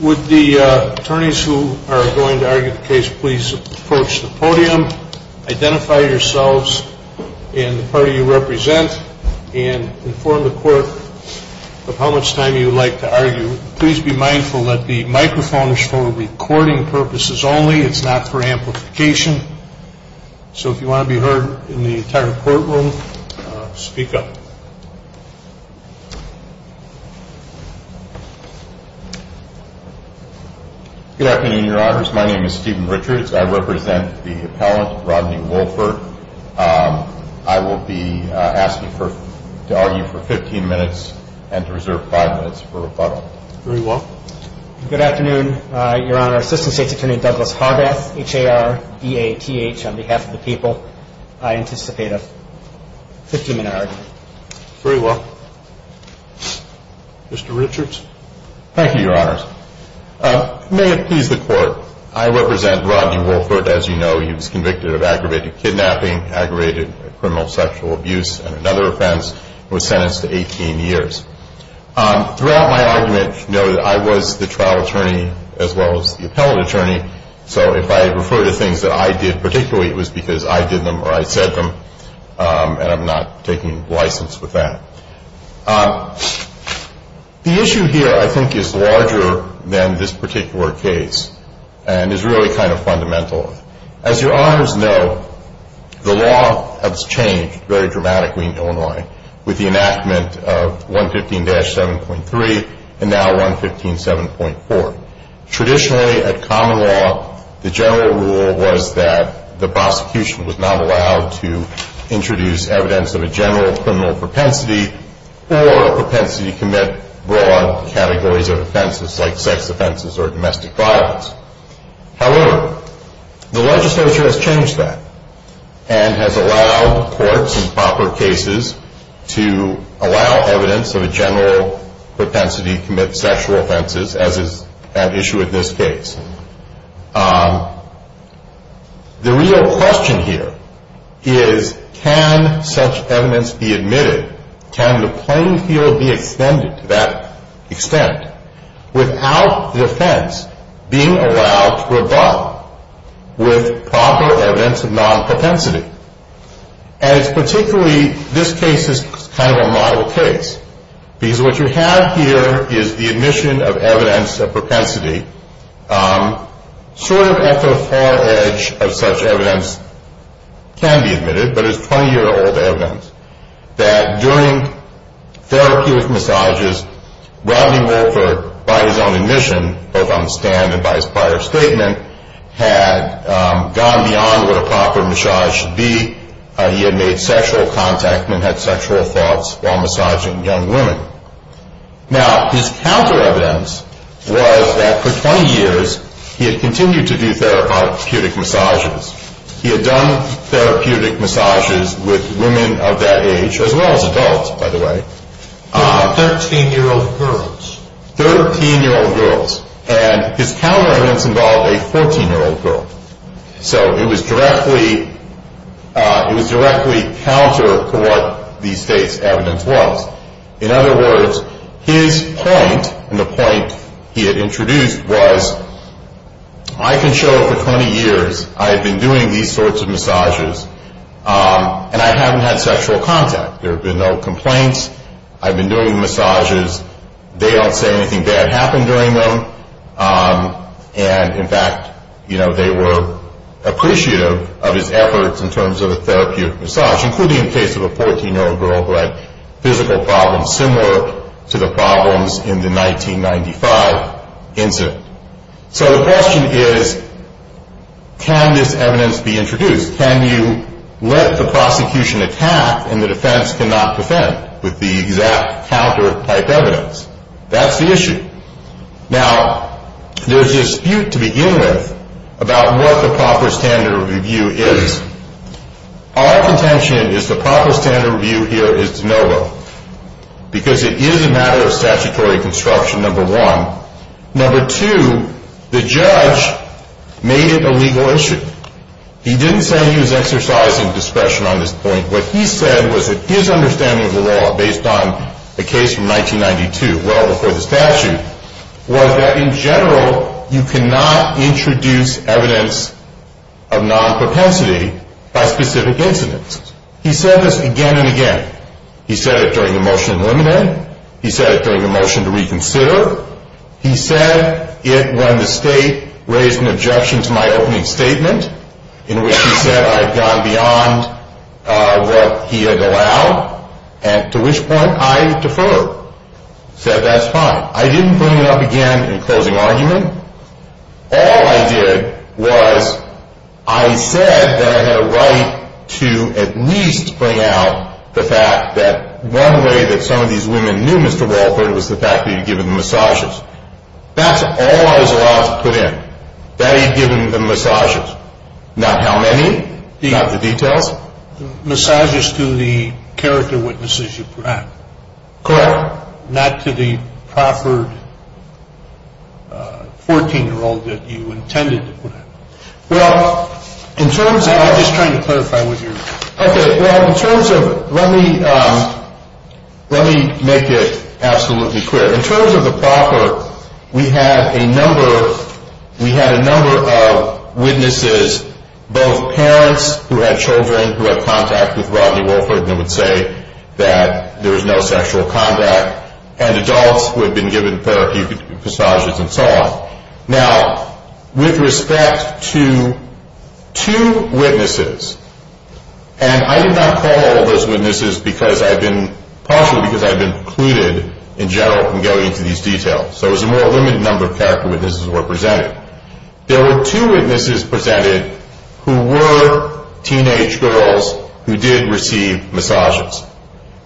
Would the attorneys who are going to argue the case please approach the podium, identify yourselves and the party you represent, and inform the court of how much time you would like to argue. Please be mindful that the microphone is for recording purposes only. It's not for amplification. So if you want to be heard in the entire courtroom, speak up. Good afternoon, your honors. My name is Stephen Richards. I represent the appellant, Rodney Woolford. I will be asking to argue for 15 minutes and to reserve 5 minutes for rebuttal. Very well. Good afternoon, your honor. Assistant State's Attorney Douglas Harbath, H-A-R-B-A-T-H, on behalf of the people. I anticipate a 15 minute argument. Very well. Mr. Richards. Thank you, your honors. May it please the court. I represent Rodney Woolford. As you know, he was convicted of aggravated kidnapping, aggravated criminal sexual abuse, and another offense. He was sentenced to 18 years. Throughout my argument, you know that I was the trial attorney as well as the appellate attorney, so if I refer to things that I did particularly, it was because I did them or I said them, and I'm not taking license with that. The issue here I think is larger than this particular case and is really kind of fundamental. As your honors know, the law has changed very dramatically in Illinois with the enactment of 115-7.3 and now 115-7.4. Traditionally, at common law, the general rule was that the prosecution was not allowed to introduce evidence of a general criminal propensity or a propensity to commit broad categories of offenses like sex offenses or domestic violence. However, the legislature has changed that and has allowed courts in proper cases to allow evidence of a general propensity to commit sexual offenses as is at issue in this case. The real question here is can such evidence be admitted? Can the plain field be extended to that extent without the offense being allowed to abide with proper evidence of non-propensity? And it's particularly, this case is kind of a model case because what you have here is the admission of evidence of propensity. Sort of at the far edge of such evidence can be admitted, but it's 20-year-old evidence that during therapeutic massages, Rodney Wolfer, by his own admission, both on the stand and by his prior statement, had gone beyond what a proper massage should be. He had made sexual contact and had sexual thoughts while massaging young women. Now, his counter evidence was that for 20 years, he had continued to do therapeutic massages. He had done therapeutic massages with women of that age, as well as adults, by the way. Thirteen-year-old girls. Thirteen-year-old girls. And his counter evidence involved a 14-year-old girl. So it was directly counter to what the state's evidence was. In other words, his point, and the point he had introduced was, I can show for 20 years I have been doing these sorts of massages and I haven't had sexual contact. There have been no complaints. I've been doing massages. They don't say anything bad happened during them. And, in fact, they were appreciative of his efforts in terms of a therapeutic massage, including in the case of a 14-year-old girl who had physical problems similar to the problems in the 1995 incident. So the question is, can this evidence be introduced? Can you let the prosecution attack and the defense cannot defend with the exact counter type evidence? That's the issue. Now, there's a dispute to begin with about what the proper standard of review is. Our contention is the proper standard of review here is de novo, because it is a matter of statutory construction, number one. Number two, the judge made it a legal issue. He didn't say he was exercising discretion on this point. What he said was that his understanding of the law based on the case from 1992, well before the statute, was that in general you cannot introduce evidence of non-propensity by specific incidents. He said this again and again. He said it during the motion to eliminate. He said it during the motion to reconsider. He said it when the state raised an objection to my opening statement in which he said I had gone beyond what he had allowed, to which point I deferred. He said that's fine. Now, I didn't bring it up again in closing argument. All I did was I said that I had a right to at least bring out the fact that one way that some of these women knew Mr. Walford was the fact that he had given them massages. That's all I was allowed to put in. That he had given them massages. Not how many, not the details. Well, massages to the character witnesses you put out. Correct. Not to the proper 14-year-old that you intended to put out. Well, in terms of... I'm just trying to clarify what you're... Okay. Well, in terms of... Let me make it absolutely clear. In terms of the proper, we had a number of witnesses, both parents who had children who had contact with Rodney Walford and would say that there was no sexual contact, and adults who had been given therapy, massages and so on. Now, with respect to two witnesses, and I did not call all those witnesses because I've been, partially because I've been precluded in general from going into these details, so it was a more limited number of character witnesses that were presented. There were two witnesses presented who were teenage girls who did receive massages.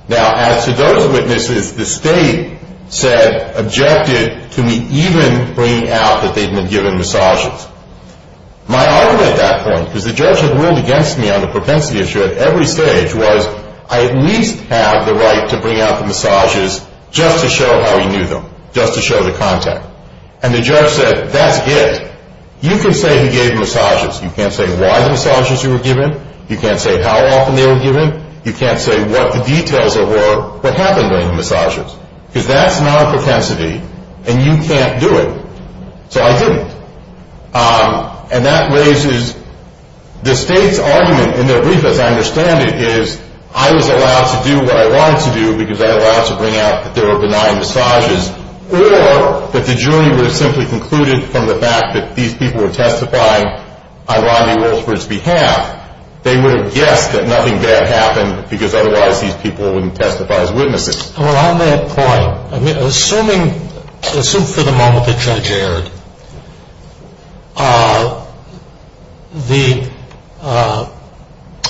Now, as to those witnesses, the state said, objected to me even bringing out that they'd been given massages. My argument at that point, because the judge had ruled against me on the propensity issue at every stage, was I at least have the right to bring out the massages just to show how he knew them, just to show the contact. And the judge said, that's it. You can say he gave massages. You can't say why the massages were given. You can't say how often they were given. You can't say what the details were, what happened during the massages. Because that's not a propensity, and you can't do it. So I didn't. And that raises, the state's argument in their brief, as I understand it, is I was allowed to do what I wanted to do because I was allowed to bring out that there were benign massages, or that the jury would have simply concluded from the fact that these people were testifying ironically well for its behalf, they would have guessed that nothing bad happened because otherwise these people wouldn't testify as witnesses. Well, on that point, assuming for the moment the judge erred, the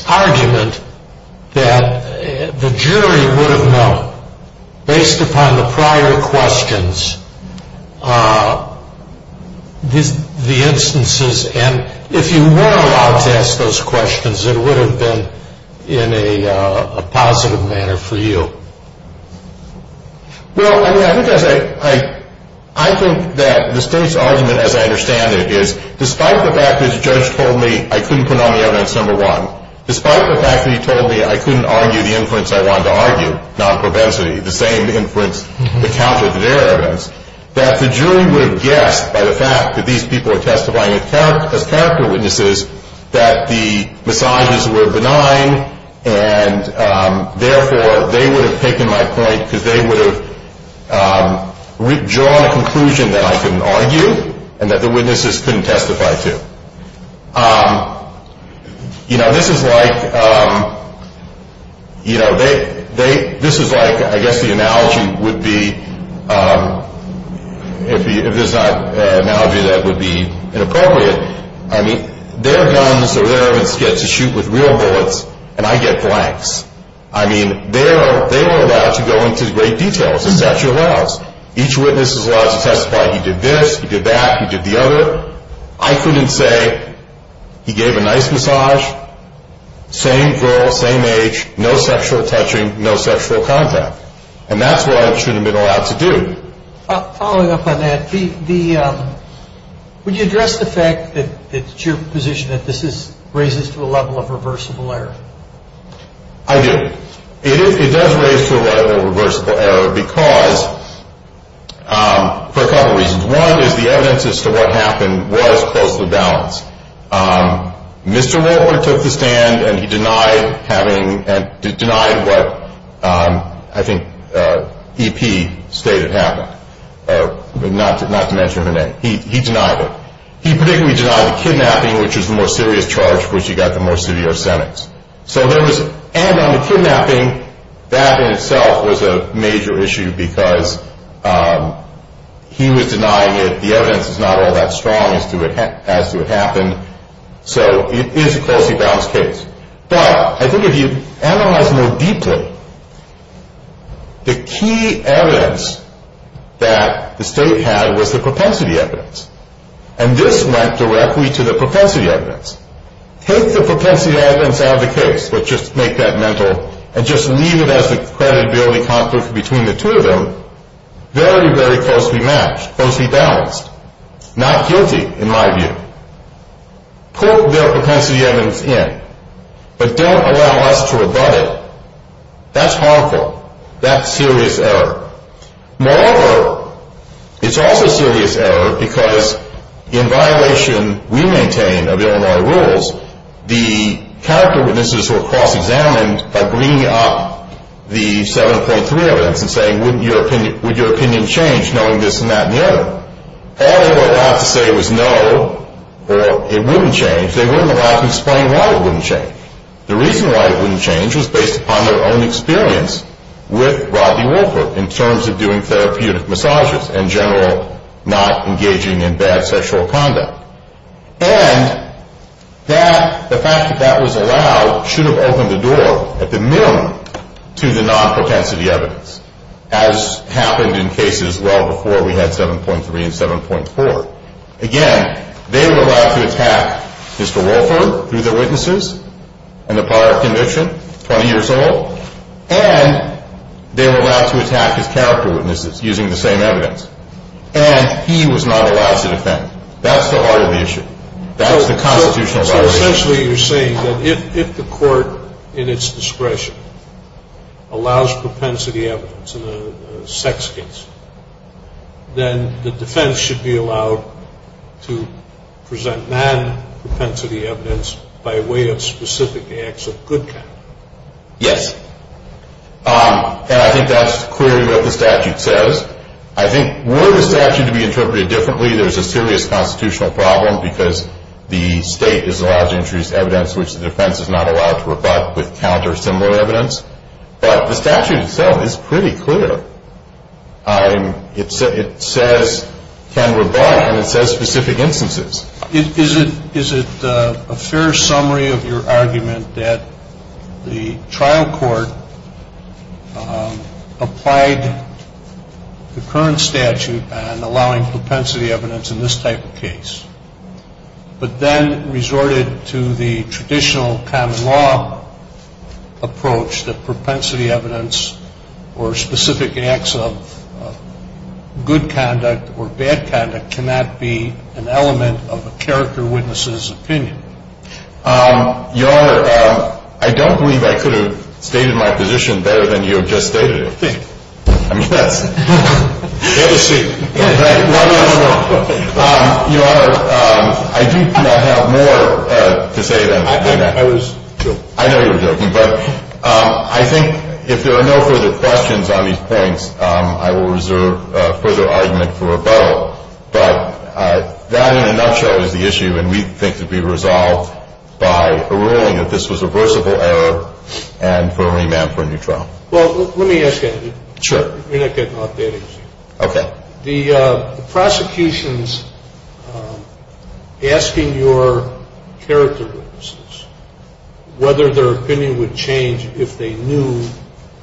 argument that the jury would have known, based upon the prior questions, the instances, and if you were allowed to ask those questions, it would have been in a positive manner for you. Well, I mean, I think that the state's argument, as I understand it, is despite the fact that the judge told me I couldn't put on the evidence, number one, despite the fact that he told me I couldn't argue the inference I wanted to argue, non-propensity, the same inference accounted for their evidence, that the jury would have guessed by the fact that these people were testifying as character witnesses that the massages were benign, and therefore they would have concluded that there were benign massages. I've taken my point because they would have drawn a conclusion that I couldn't argue and that the witnesses couldn't testify to. You know, this is like, I guess the analogy would be, if it's not an analogy, that would be inappropriate. I mean, their guns or their evidence gets to shoot with real bullets, and I get blanks. I mean, they were allowed to go into great detail, as the statute allows. Each witness is allowed to testify, he did this, he did that, he did the other. I couldn't say he gave a nice massage, same girl, same age, no sexual touching, no sexual contact. And that's what I should have been allowed to do. Following up on that, would you address the fact that it's your position that this raises to a level of reversible error? I do. It does raise to a level of reversible error because, for a couple reasons. One is the evidence as to what happened was close to the balance. Mr. Rolland took the stand and he denied having, and denied what I think E.P. stated happened, not to mention her name. He denied it. He particularly denied the kidnapping, which was the more serious charge for which he got the more severe sentence. So there was, and on the kidnapping, that in itself was a major issue because he was denying it. The evidence is not all that strong as to what happened. So it is a closely balanced case. But I think if you analyze more deeply, the key evidence that the state had was the propensity evidence. And this went directly to the propensity evidence. Take the propensity evidence out of the case, but just make that mental, and just leave it as a credibility conflict between the two of them. Very, very closely matched, closely balanced. Not guilty, in my view. Put the propensity evidence in, but don't allow us to rebut it. That's harmful. That's serious error. Moreover, it's also serious error because in violation, we maintain, of Illinois rules, the character witnesses were cross-examined by bringing up the 7.3 evidence and saying, would your opinion change knowing this and that and the other? All they were allowed to say was no, or it wouldn't change. They weren't allowed to explain why it wouldn't change. The reason why it wouldn't change was based upon their own experience with Rodney Wolford in terms of doing therapeutic massages and general not engaging in bad sexual conduct. And the fact that that was allowed should have opened the door at the minimum to the non-propensity evidence, as happened in cases well before we had 7.3 and 7.4. Again, they were allowed to attack Mr. Wolford through their witnesses and the power of conviction, 20 years old, and they were allowed to attack his character witnesses using the same evidence. And he was not allowed to defend. That's the heart of the issue. That's the constitutional violation. So essentially you're saying that if the court, in its discretion, allows propensity evidence in a sex case, then the defense should be allowed to present non-propensity evidence by way of specific acts of good conduct. Yes. And I think that's clearly what the statute says. I think were the statute to be interpreted differently, there's a serious constitutional problem because the state is allowed to introduce evidence which the defense is not allowed to rebut with counter similar evidence. But the statute itself is pretty clear. It says can rebut and it says specific instances. Is it a fair summary of your argument that the trial court applied the current statute and allowing propensity evidence in this type of case, but then resorted to the traditional common law approach that propensity evidence or specific acts of good conduct or bad conduct cannot be an element of a character witness's opinion? Your Honor, I don't believe I could have stated my position better than you have just stated it. I mean, that's fair to say. Your Honor, I do not have more to say than that. I was joking. I know you were joking, but I think if there are no further questions on these points, I will reserve further argument for rebuttal. But that in a nutshell is the issue, and we think it should be resolved by a ruling that this was a reversible error and for remand for a new trial. Well, let me ask you. Sure. You're not getting off that easy. Okay. The prosecution's asking your character witnesses whether their opinion would change if they knew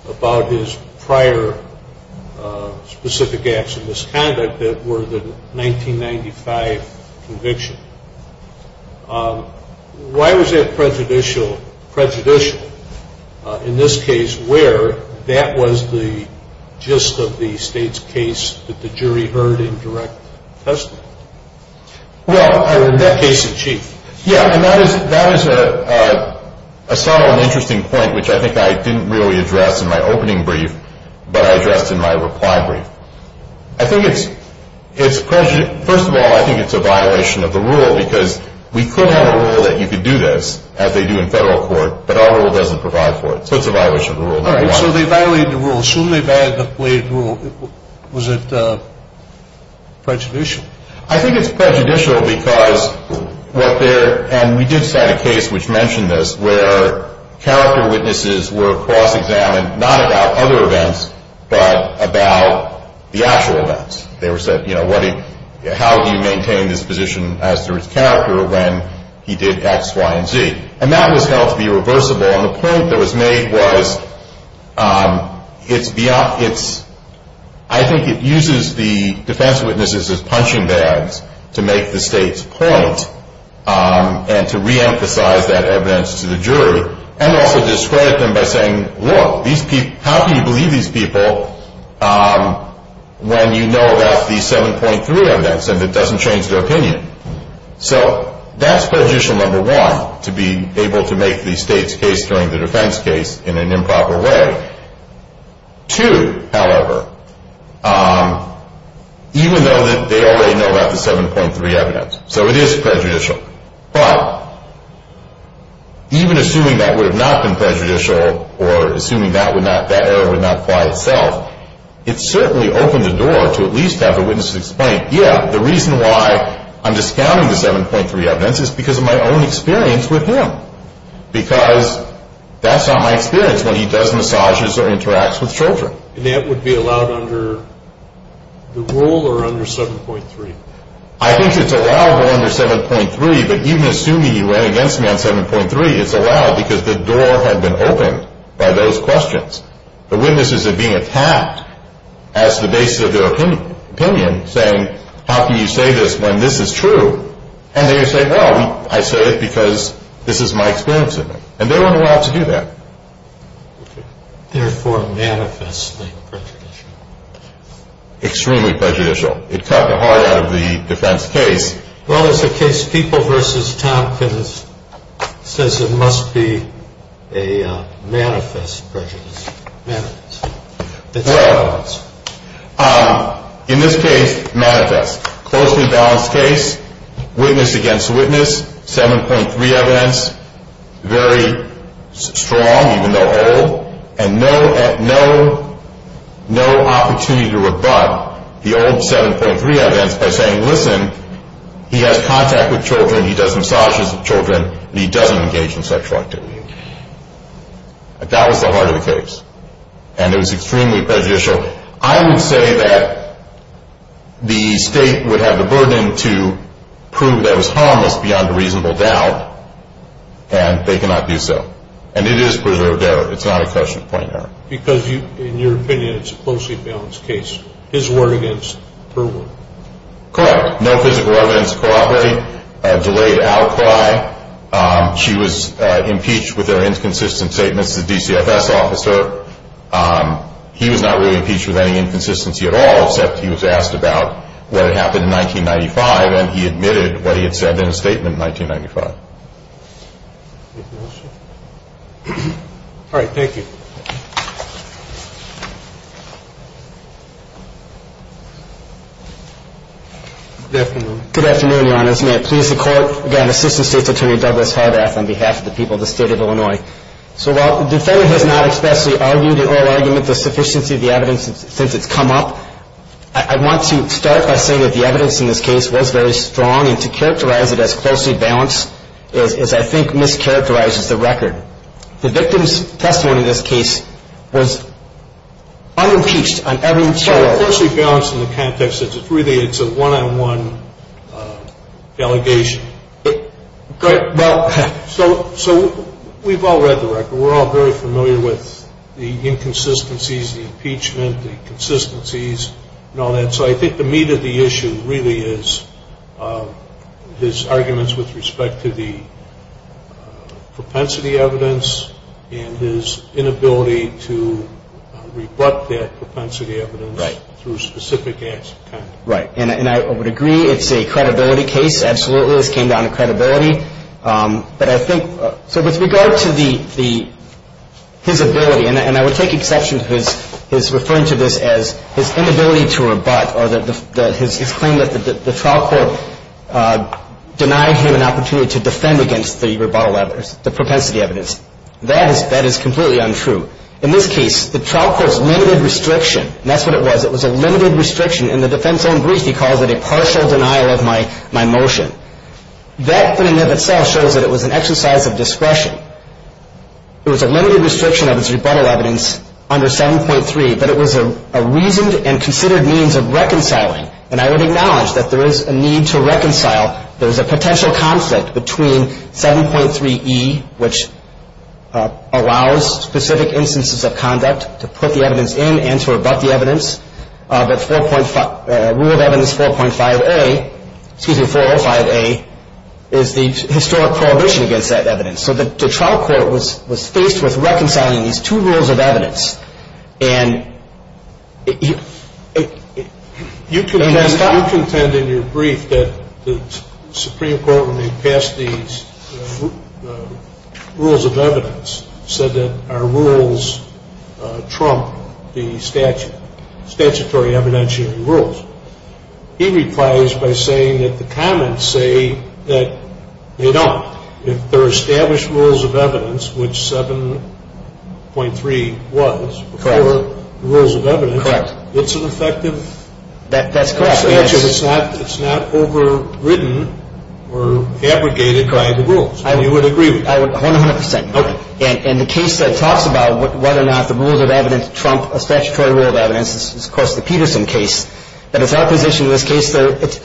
about his prior specific acts of misconduct that were the 1995 conviction. Why was that prejudicial in this case where that was the gist of the state's case that the jury heard in direct testimony? Well, in that case in chief. Yeah, and that is a subtle and interesting point, which I think I didn't really address in my opening brief, but I addressed in my reply brief. I think it's a prejudice. First of all, I think it's a violation of the rule, because we could have a rule that you could do this as they do in federal court, but our rule doesn't provide for it. So it's a violation of the rule. All right. So they violated the rule. As soon as they violated the rule, was it prejudicial? I think it's prejudicial because what they're – and we did cite a case which mentioned this where character witnesses were cross-examined, not about other events, but about the actual events. They were said, you know, how do you maintain this position as to his character when he did X, Y, and Z? And that was held to be reversible, and the point that was made was it's beyond – I think it uses the defense witnesses as punching bags to make the state's point and to reemphasize that evidence to the jury and also discredit them by saying, look, how can you believe these people when you know about the 7.3 evidence and it doesn't change their opinion? So that's prejudicial, number one, to be able to make the state's case during the defense case in an improper way. Two, however, even though they already know about the 7.3 evidence, so it is prejudicial. But even assuming that would have not been prejudicial or assuming that error would not apply itself, it certainly opened the door to at least have the witnesses explain, yeah, the reason why I'm discounting the 7.3 evidence is because of my own experience with him because that's not my experience when he does massages or interacts with children. And that would be allowed under the rule or under 7.3? I think it's allowed under 7.3, but even assuming he ran against me on 7.3, it's allowed because the door had been opened by those questions. The witnesses are being attacked as the basis of their opinion, saying, how can you say this when this is true? And they would say, well, I say it because this is my experience with him. And they weren't allowed to do that. Therefore, manifestly prejudicial. Extremely prejudicial. It cut the heart out of the defense case. Well, it's a case of people versus time, because it says it must be a manifest prejudice. Well, in this case, manifest, closely balanced case, witness against witness, 7.3 evidence, very strong, even though old, and no opportunity to rebut the old 7.3 evidence by saying, listen, he has contact with children, he does massages with children, and he doesn't engage in sexual activity. That was the heart of the case, and it was extremely prejudicial. So I would say that the state would have the burden to prove that it was harmless beyond a reasonable doubt, and they cannot do so. And it is preserved error. It's not a question of point and error. Because, in your opinion, it's a closely balanced case. His word against her word. Correct. No physical evidence of cooperating. Delayed outcry. She was impeached with her inconsistent statements to the DCFS officer. He was not really impeached with any inconsistency at all, except he was asked about what had happened in 1995, and he admitted what he had said in a statement in 1995. Anything else? All right. Thank you. Good afternoon. Good afternoon, Your Honors. May it please the Court, again, Assistant State's Attorney Douglas Harbath on behalf of the people of the State of Illinois. So while the defendant has not expressly argued in oral argument the sufficiency of the evidence since it's come up, I want to start by saying that the evidence in this case was very strong, and to characterize it as closely balanced is, I think, mischaracterizes the record. The victim's testimony in this case was unimpeached on every charge. So closely balanced in the context that it's really a one-on-one delegation. So we've all read the record. We're all very familiar with the inconsistencies, the impeachment, the consistencies, and all that. So I think the meat of the issue really is his arguments with respect to the propensity evidence and his inability to rebut that propensity evidence through specific acts of conduct. Right. And I would agree it's a credibility case, absolutely. This came down to credibility. But I think so with regard to his ability, and I would take exception to his referring to this as his inability to rebut or his claim that the trial court denied him an opportunity to defend against the rebuttal evidence, the propensity evidence. That is completely untrue. In this case, the trial court's limited restriction, and that's what it was, it was a limited restriction. In the defense's own brief, he calls it a partial denial of my motion. That in and of itself shows that it was an exercise of discretion. It was a limited restriction of his rebuttal evidence under 7.3, but it was a reasoned and considered means of reconciling. And I would acknowledge that there is a need to reconcile. There is a potential conflict between 7.3e, which allows specific instances of conduct to put the evidence in and to rebut the evidence, but Rule of Evidence 4.5a, excuse me, 405a, is the historic prohibition against that evidence. So the trial court was faced with reconciling these two rules of evidence. You contend in your brief that the Supreme Court, when they passed these rules of evidence, said that our rules trump the statutory evidentiary rules. He replies by saying that the comments say that they don't. Now, if they're established rules of evidence, which 7.3 was before the rules of evidence, it's an effective statute. It's not overridden or abrogated by the rules. You would agree with that? I would 100%. And the case that talks about whether or not the rules of evidence trump a statutory rule of evidence is, of course, the Peterson case. But it's our position in this case that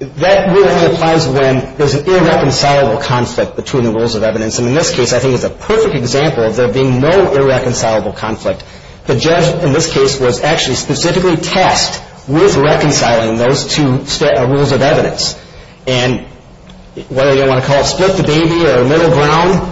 that rule only applies when there's an irreconcilable conflict between the rules of evidence. And in this case, I think it's a perfect example of there being no irreconcilable conflict. The judge in this case was actually specifically tasked with reconciling those two rules of evidence. And whether you want to call it split the baby or middle ground,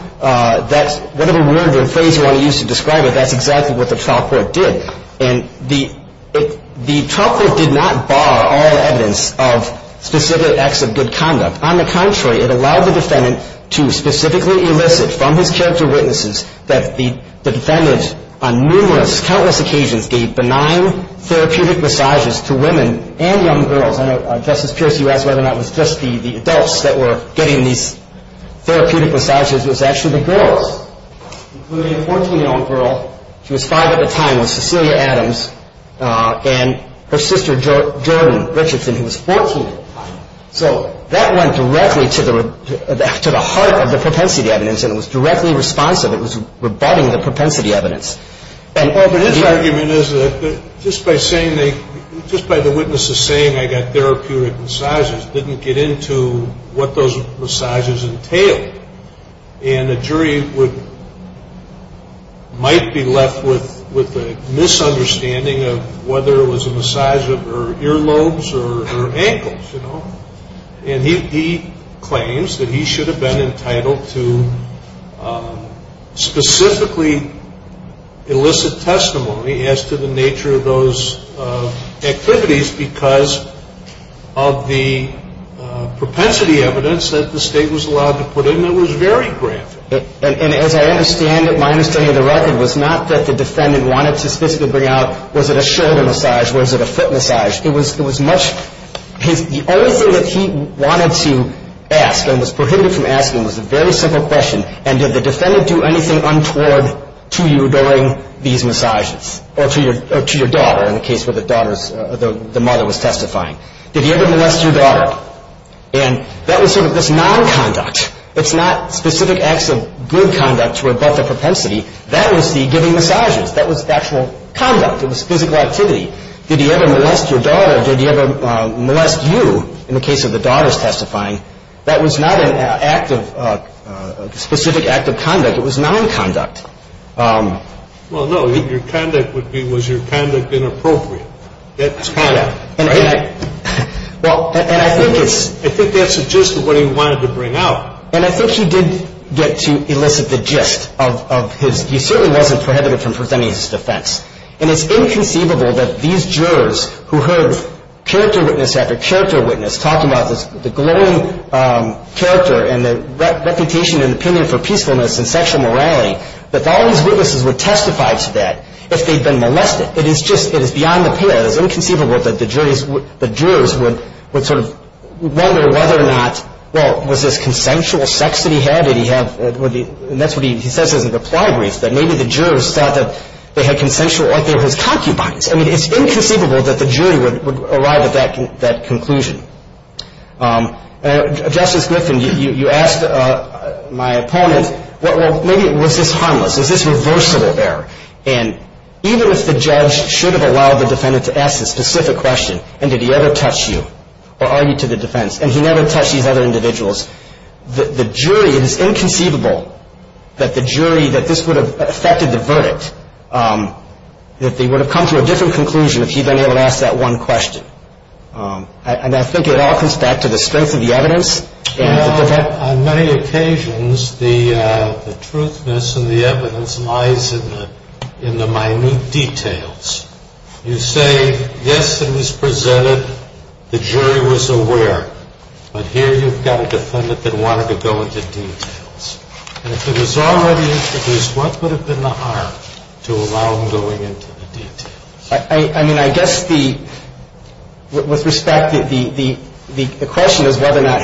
whatever word or phrase you want to use to describe it, that's exactly what the trial court did. And the trial court did not bar all evidence of specific acts of good conduct. On the contrary, it allowed the defendant to specifically elicit from his character witnesses that the defendant on numerous, countless occasions gave benign therapeutic massages to women and young girls. I know, Justice Pierce, you asked whether or not it was just the adults that were getting these therapeutic massages. It was actually the girls, including a 14-year-old girl. She was five at the time. It was Cecilia Adams and her sister, Jordan Richardson, who was 14 at the time. So that went directly to the heart of the propensity evidence, and it was directly responsive. It was rebutting the propensity evidence. But his argument is that just by the witnesses saying I got therapeutic massages didn't get into what those massages entailed. And a jury might be left with a misunderstanding of whether it was a massage of her earlobes or her ankles. And he claims that he should have been entitled to specifically elicit testimony as to the nature of those activities because of the propensity evidence that the State was allowed to put in that was very graphic. And as I understand it, my understanding of the record was not that the defendant wanted to specifically bring out, was it a shoulder massage, was it a foot massage? It was much – the only thing that he wanted to ask and was prohibited from asking was a very simple question, and did the defendant do anything untoward to you during these massages or to your daughter, in the case where the daughter's – the mother was testifying? Did he ever molest your daughter? And that was sort of this nonconduct. It's not specific acts of good conduct to rebut the propensity. That was the giving massages. That was actual conduct. It was physical activity. Did he ever molest your daughter? Did he ever molest you in the case of the daughter's testifying? That was not an act of – a specific act of conduct. It was nonconduct. Well, no. Your conduct would be, was your conduct inappropriate? That's conduct. Right? Well, and I think it's – I think that's the gist of what he wanted to bring out. And I think he did get to elicit the gist of his – he certainly wasn't prohibited from presenting his defense. And it's inconceivable that these jurors who heard character witness after character witness talking about the glowing character and the reputation and opinion for peacefulness and sexual morality, that all these witnesses would testify to that if they'd been molested. It is just – it is beyond the pale. It is inconceivable that the jurors would sort of wonder whether or not, well, was this consensual sex that he had? Did he have – and that's what he says in his reply brief, that maybe the jurors thought that they had consensual – like they were his concubines. I mean, it's inconceivable that the jury would arrive at that conclusion. Justice Griffin, you asked my opponent, well, maybe was this harmless? Is this reversible there? And even if the judge should have allowed the defendant to ask the specific question, and did he ever touch you or argue to the defense, and he never touched these other individuals, the jury – it is inconceivable that the jury, that this would have affected the verdict, that they would have come to a different conclusion if he'd been able to ask that one question. And I think it all comes back to the strength of the evidence. You know, on many occasions, the truthness and the evidence lies in the minute details. You say, yes, it was presented, the jury was aware. But here you've got a defendant that wanted to go into details. And if it was already introduced, what would have been the harm to allow him going into the details? I mean, I guess the – with respect, the question is whether or not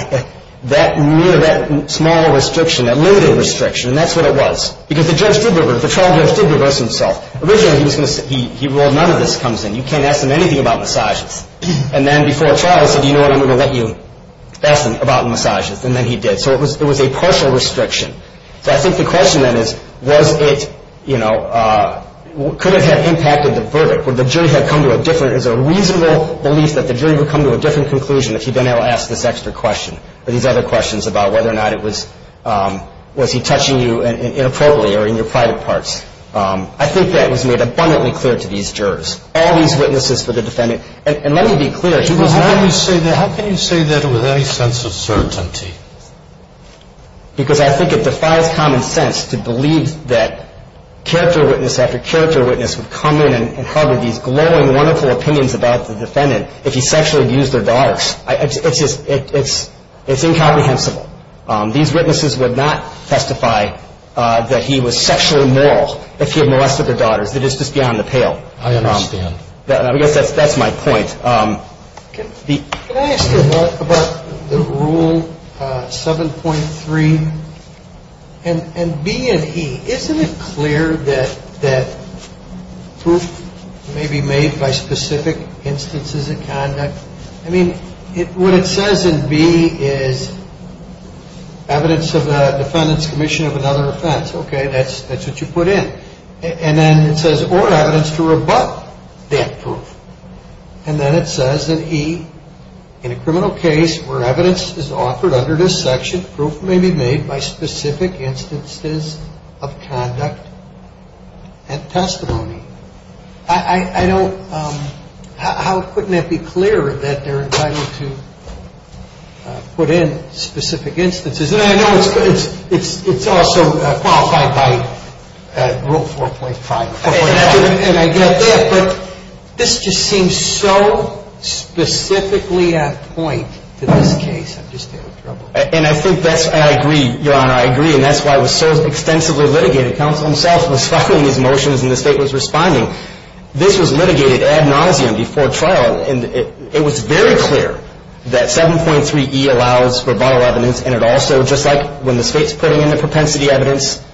that mere – that small restriction, that limited restriction, and that's what it was. Because the judge did reverse – the trial judge did reverse himself. Originally, he was going to say, well, none of this comes in. You can't ask them anything about massages. And then before trial, he said, you know what, I'm going to let you ask them about massages. And then he did. So it was a partial restriction. So I think the question then is, was it – you know, could it have impacted the verdict? Would the jury have come to a different – is it a reasonable belief that the jury would come to a different conclusion if he'd been able to ask this extra question or these other questions about whether or not it was – was he touching you inappropriately or in your private parts? I think that was made abundantly clear to these jurors. All these witnesses for the defendant – and let me be clear. How can you say that with any sense of certainty? Because I think it defies common sense to believe that character witness after character witness would come in and harbor these glowing, wonderful opinions about the defendant if he sexually abused their daughters. It's just – it's incomprehensible. These witnesses would not testify that he was sexually immoral if he had molested their daughters. It is just beyond the pale. I understand. I guess that's my point. Can I ask about the Rule 7.3 and B and E? Isn't it clear that proof may be made by specific instances of conduct? I mean, what it says in B is evidence of the defendant's commission of another offense. Okay, that's what you put in. And then it says, or evidence to rebut that proof. And then it says in E, in a criminal case where evidence is offered under this section, proof may be made by specific instances of conduct and testimony. I don't – how couldn't it be clearer that they're entitled to put in specific instances? I know it's also qualified by Rule 4.5. And I get that, but this just seems so specifically at point to this case. I'm just in trouble. And I think that's – I agree, Your Honor. I agree, and that's why it was so extensively litigated. Counsel himself was filing his motions and the State was responding. This was litigated ad nauseum before trial, and it was very clear that 7.3E allows for viral evidence and it also, just like when the State's putting in the propensity evidence,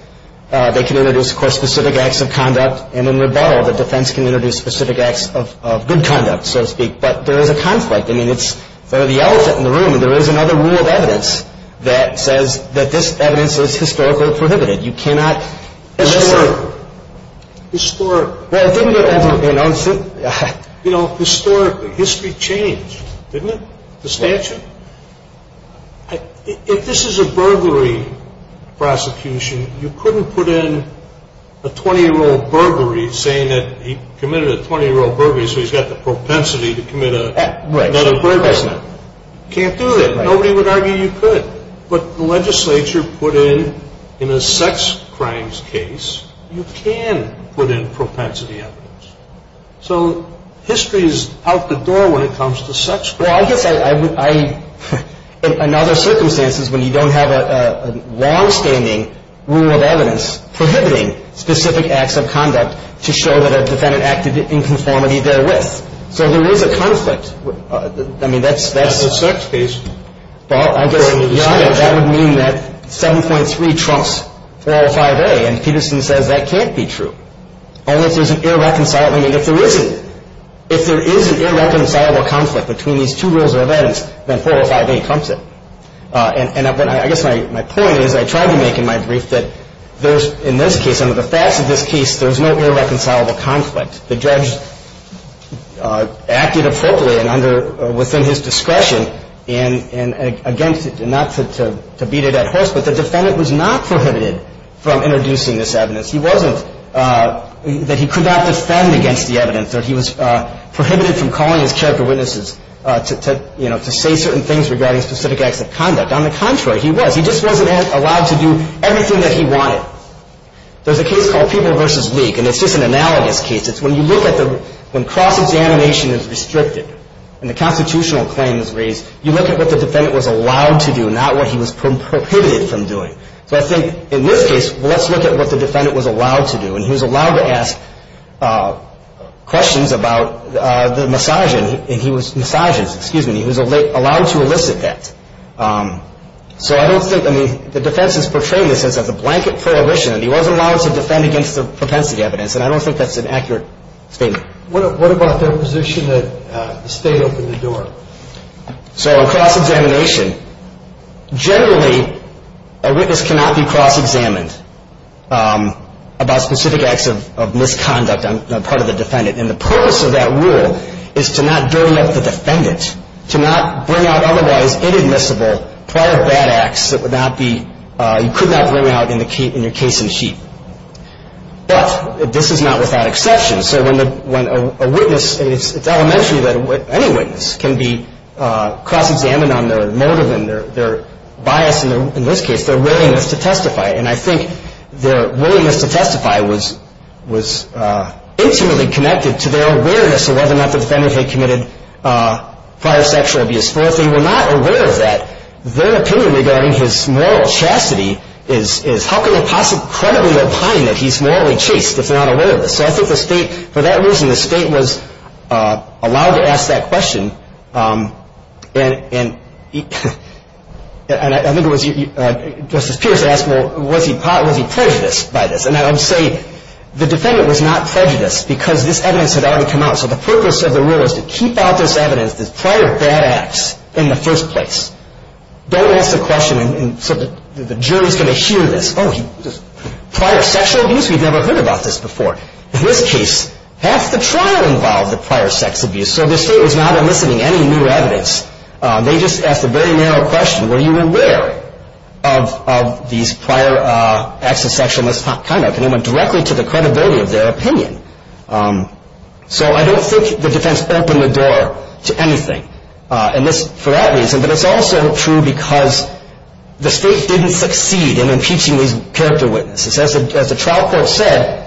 they can introduce, of course, specific acts of conduct. And in rebuttal, the defense can introduce specific acts of good conduct, so to speak. But there is a conflict. I mean, it's sort of the elephant in the room. There is another rule of evidence that says that this evidence is historically prohibited. You cannot – Historically. Historically. Well, think about that. You know, historically. History changed, didn't it? The statute? If this is a burglary prosecution, you couldn't put in a 20-year-old burglary saying that he committed a 20-year-old burglary so he's got the propensity to commit another burglary. Right. You can't do that. Nobody would argue you could. But the legislature put in, in a sex crimes case, you can put in propensity evidence. So history is out the door when it comes to sex crimes. Well, I guess I would – in other circumstances when you don't have a longstanding rule of evidence prohibiting specific acts of conduct to show that a defendant acted in conformity therewith. So there is a conflict. I mean, that's – That's a sex case. Well, I guess that would mean that 7.3 trumps 405A, and Peterson says that can't be true. Unless there's an irreconcilable – I mean, if there isn't, if there is an irreconcilable conflict between these two rules of evidence, then 405A trumps it. And I guess my point is I tried to make in my brief that there's – in this case, under the facts of this case, there's no irreconcilable conflict. The judge acted appropriately and under – within his discretion and against it, not to beat it at horse, but the defendant was not prohibited from introducing this evidence. He wasn't – that he could not defend against the evidence, that he was prohibited from calling his character witnesses to, you know, to say certain things regarding specific acts of conduct. On the contrary, he was. He just wasn't allowed to do everything that he wanted. There's a case called People v. League, and it's just an analogous case. It's when you look at the – when cross-examination is restricted and the constitutional claim is raised, you look at what the defendant was allowed to do, not what he was prohibited from doing. So I think in this case, let's look at what the defendant was allowed to do, and he was allowed to ask questions about the misogyny, and he was – misogynist, excuse me. He was allowed to elicit that. So I don't think – I mean, the defense is portraying this as a blanket prohibition, and he wasn't allowed to defend against the propensity evidence, and I don't think that's an accurate statement. What about the position that the State opened the door? So in cross-examination, generally a witness cannot be cross-examined about specific acts of misconduct on the part of the defendant, and the purpose of that rule is to not dirty up the defendant, to not bring out otherwise inadmissible prior bad acts that would not be – you could not bring out in your case in the sheet. But this is not without exception. So when a witness – it's elementary that any witness can be cross-examined on their motive and their bias in this case, their willingness to testify. And I think their willingness to testify was intimately connected to their awareness of whether or not the defendant had committed prior sexual abuse. If they were not aware of that, their opinion regarding his moral chastity is, how can they possibly credibly opine that he's morally chaste if they're not aware of this? So I think the State – for that reason, the State was allowed to ask that question. And I think it was – Justice Pierce asked, well, was he prejudiced by this? And I would say the defendant was not prejudiced because this evidence had already come out. So the purpose of the rule is to keep out this evidence, this prior bad acts in the first place. Don't ask the question so that the jury's going to hear this. Prior sexual abuse? We've never heard about this before. In this case, half the trial involved prior sex abuse. So the State was not enlisting any new evidence. They just asked a very narrow question. Were you aware of these prior acts of sexual misconduct? And it went directly to the credibility of their opinion. So I don't think the defense opened the door to anything for that reason. But it's also true because the State didn't succeed in impeaching these character witnesses. As the trial court said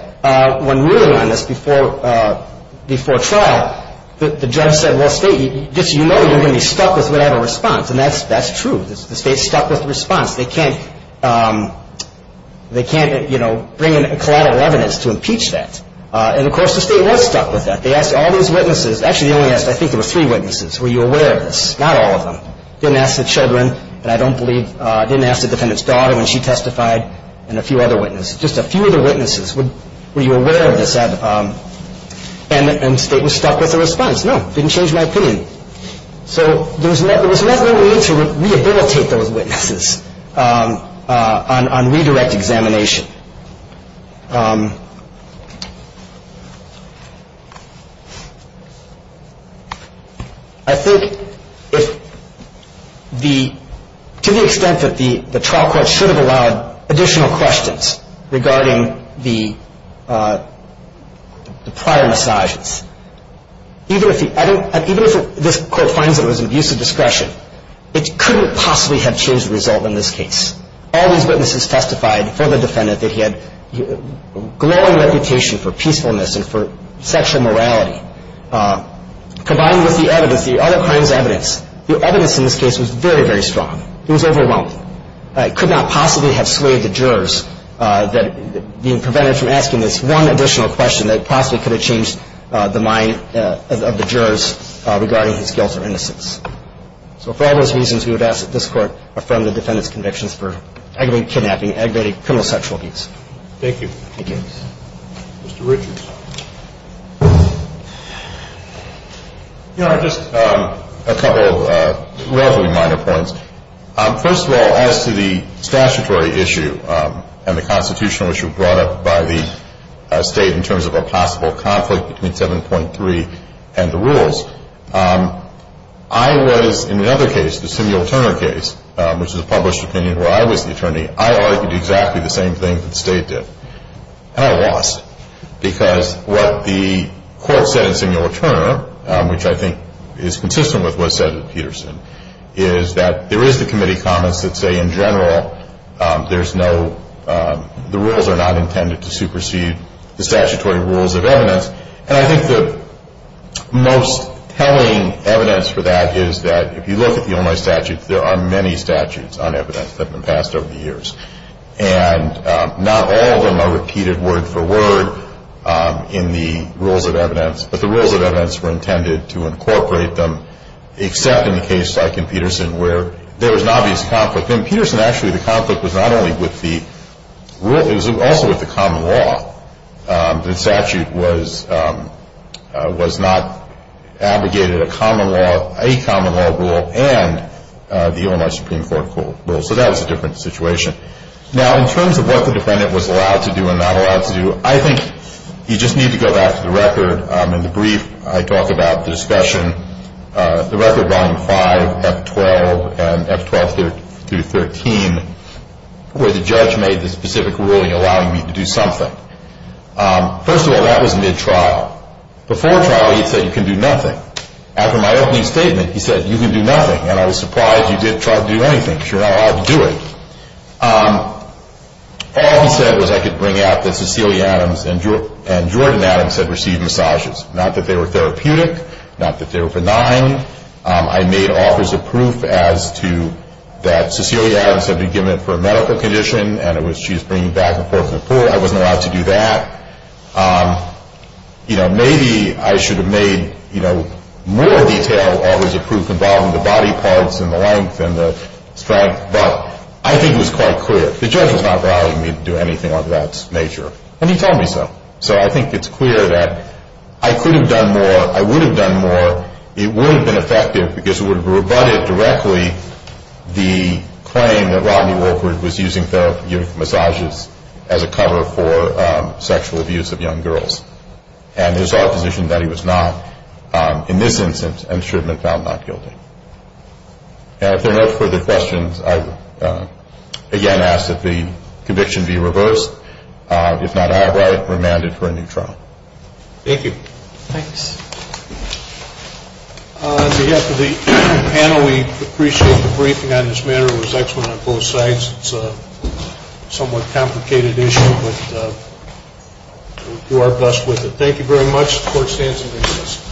when ruling on this before trial, the judge said, well, State, you know you're going to be stuck with whatever response. And that's true. The State's stuck with the response. They can't bring in collateral evidence to impeach that. And, of course, the State was stuck with that. They asked all these witnesses. Actually, they only asked – I think there were three witnesses. Were you aware of this? Not all of them. They didn't ask the children, and I don't believe – they didn't ask the defendant's daughter when she testified and a few other witnesses. Just a few of the witnesses. Were you aware of this? And the State was stuck with the response. No, it didn't change my opinion. So there was no way to rehabilitate those witnesses on redirect examination. I think if the – to the extent that the trial court should have allowed additional questions regarding the prior massages, even if this court finds it was an abuse of discretion, it couldn't possibly have changed the result in this case. All these witnesses testified for the defendant that he had a glowing reputation for peacefulness and for sexual morality. Combined with the evidence, the other crime's evidence, the evidence in this case was very, very strong. It was overwhelming. It could not possibly have swayed the jurors that being prevented from asking this one additional question that possibly could have changed the mind of the jurors regarding his guilt or innocence. So for all those reasons, we would ask that this court affirm the defendant's convictions for aggravated kidnapping, aggravated criminal sexual abuse. Thank you. Thank you. Mr. Richards. You know, just a couple of relatively minor points. First of all, as to the statutory issue and the constitutional issue brought up by the state in terms of a possible conflict between 7.3 and the rules, I was, in another case, the Samuel Turner case, which is a published opinion where I was the attorney, I argued exactly the same thing that the state did. And I lost because what the court said in Samuel Turner, which I think is consistent with what was said in Peterson, is that there is the committee comments that say in general there's no, the rules are not intended to supersede the statutory rules of evidence. And I think the most telling evidence for that is that if you look at the only statutes, there are many statutes on evidence that have been passed over the years. And not all of them are repeated word for word in the rules of evidence. But the rules of evidence were intended to incorporate them, except in the case like in Peterson where there was an obvious conflict. In Peterson, actually, the conflict was not only with the rules, it was also with the common law. The statute was not abrogated a common law rule and the Illinois Supreme Court rule. So that was a different situation. Now, in terms of what the defendant was allowed to do and not allowed to do, I think you just need to go back to the record. In the brief, I talk about the discussion, the record volume 5, F12, and F12-13, where the judge made the specific ruling allowing me to do something. First of all, that was mid-trial. Before trial, he said you can do nothing. After my opening statement, he said you can do nothing, and I was surprised you didn't try to do anything because you're not allowed to do it. All he said was I could bring out that Cecilia Adams and Jordan Adams had received massages. Not that they were therapeutic, not that they were benign. I made offers of proof as to that Cecilia Adams had been given it for a medical condition and she was bringing it back and forth to the court. I wasn't allowed to do that. Maybe I should have made more detailed offers of proof involving the body parts and the length and the strength. But I think it was quite clear. The judge was not allowing me to do anything of that nature, and he told me so. So I think it's clear that I could have done more. I would have done more. It would have been effective because it would have rebutted directly the claim that Rodney Woolford was using therapeutic massages as a cover for sexual abuse of young girls, and his opposition that he was not in this instance and should have been found not guilty. If there are no further questions, I again ask that the conviction be reversed. If not, I have it remanded for a new trial. Thank you. Thanks. On behalf of the panel, we appreciate the briefing on this matter. It was excellent on both sides. It's a somewhat complicated issue, but we'll do our best with it. Thank you very much. The court stands in recess.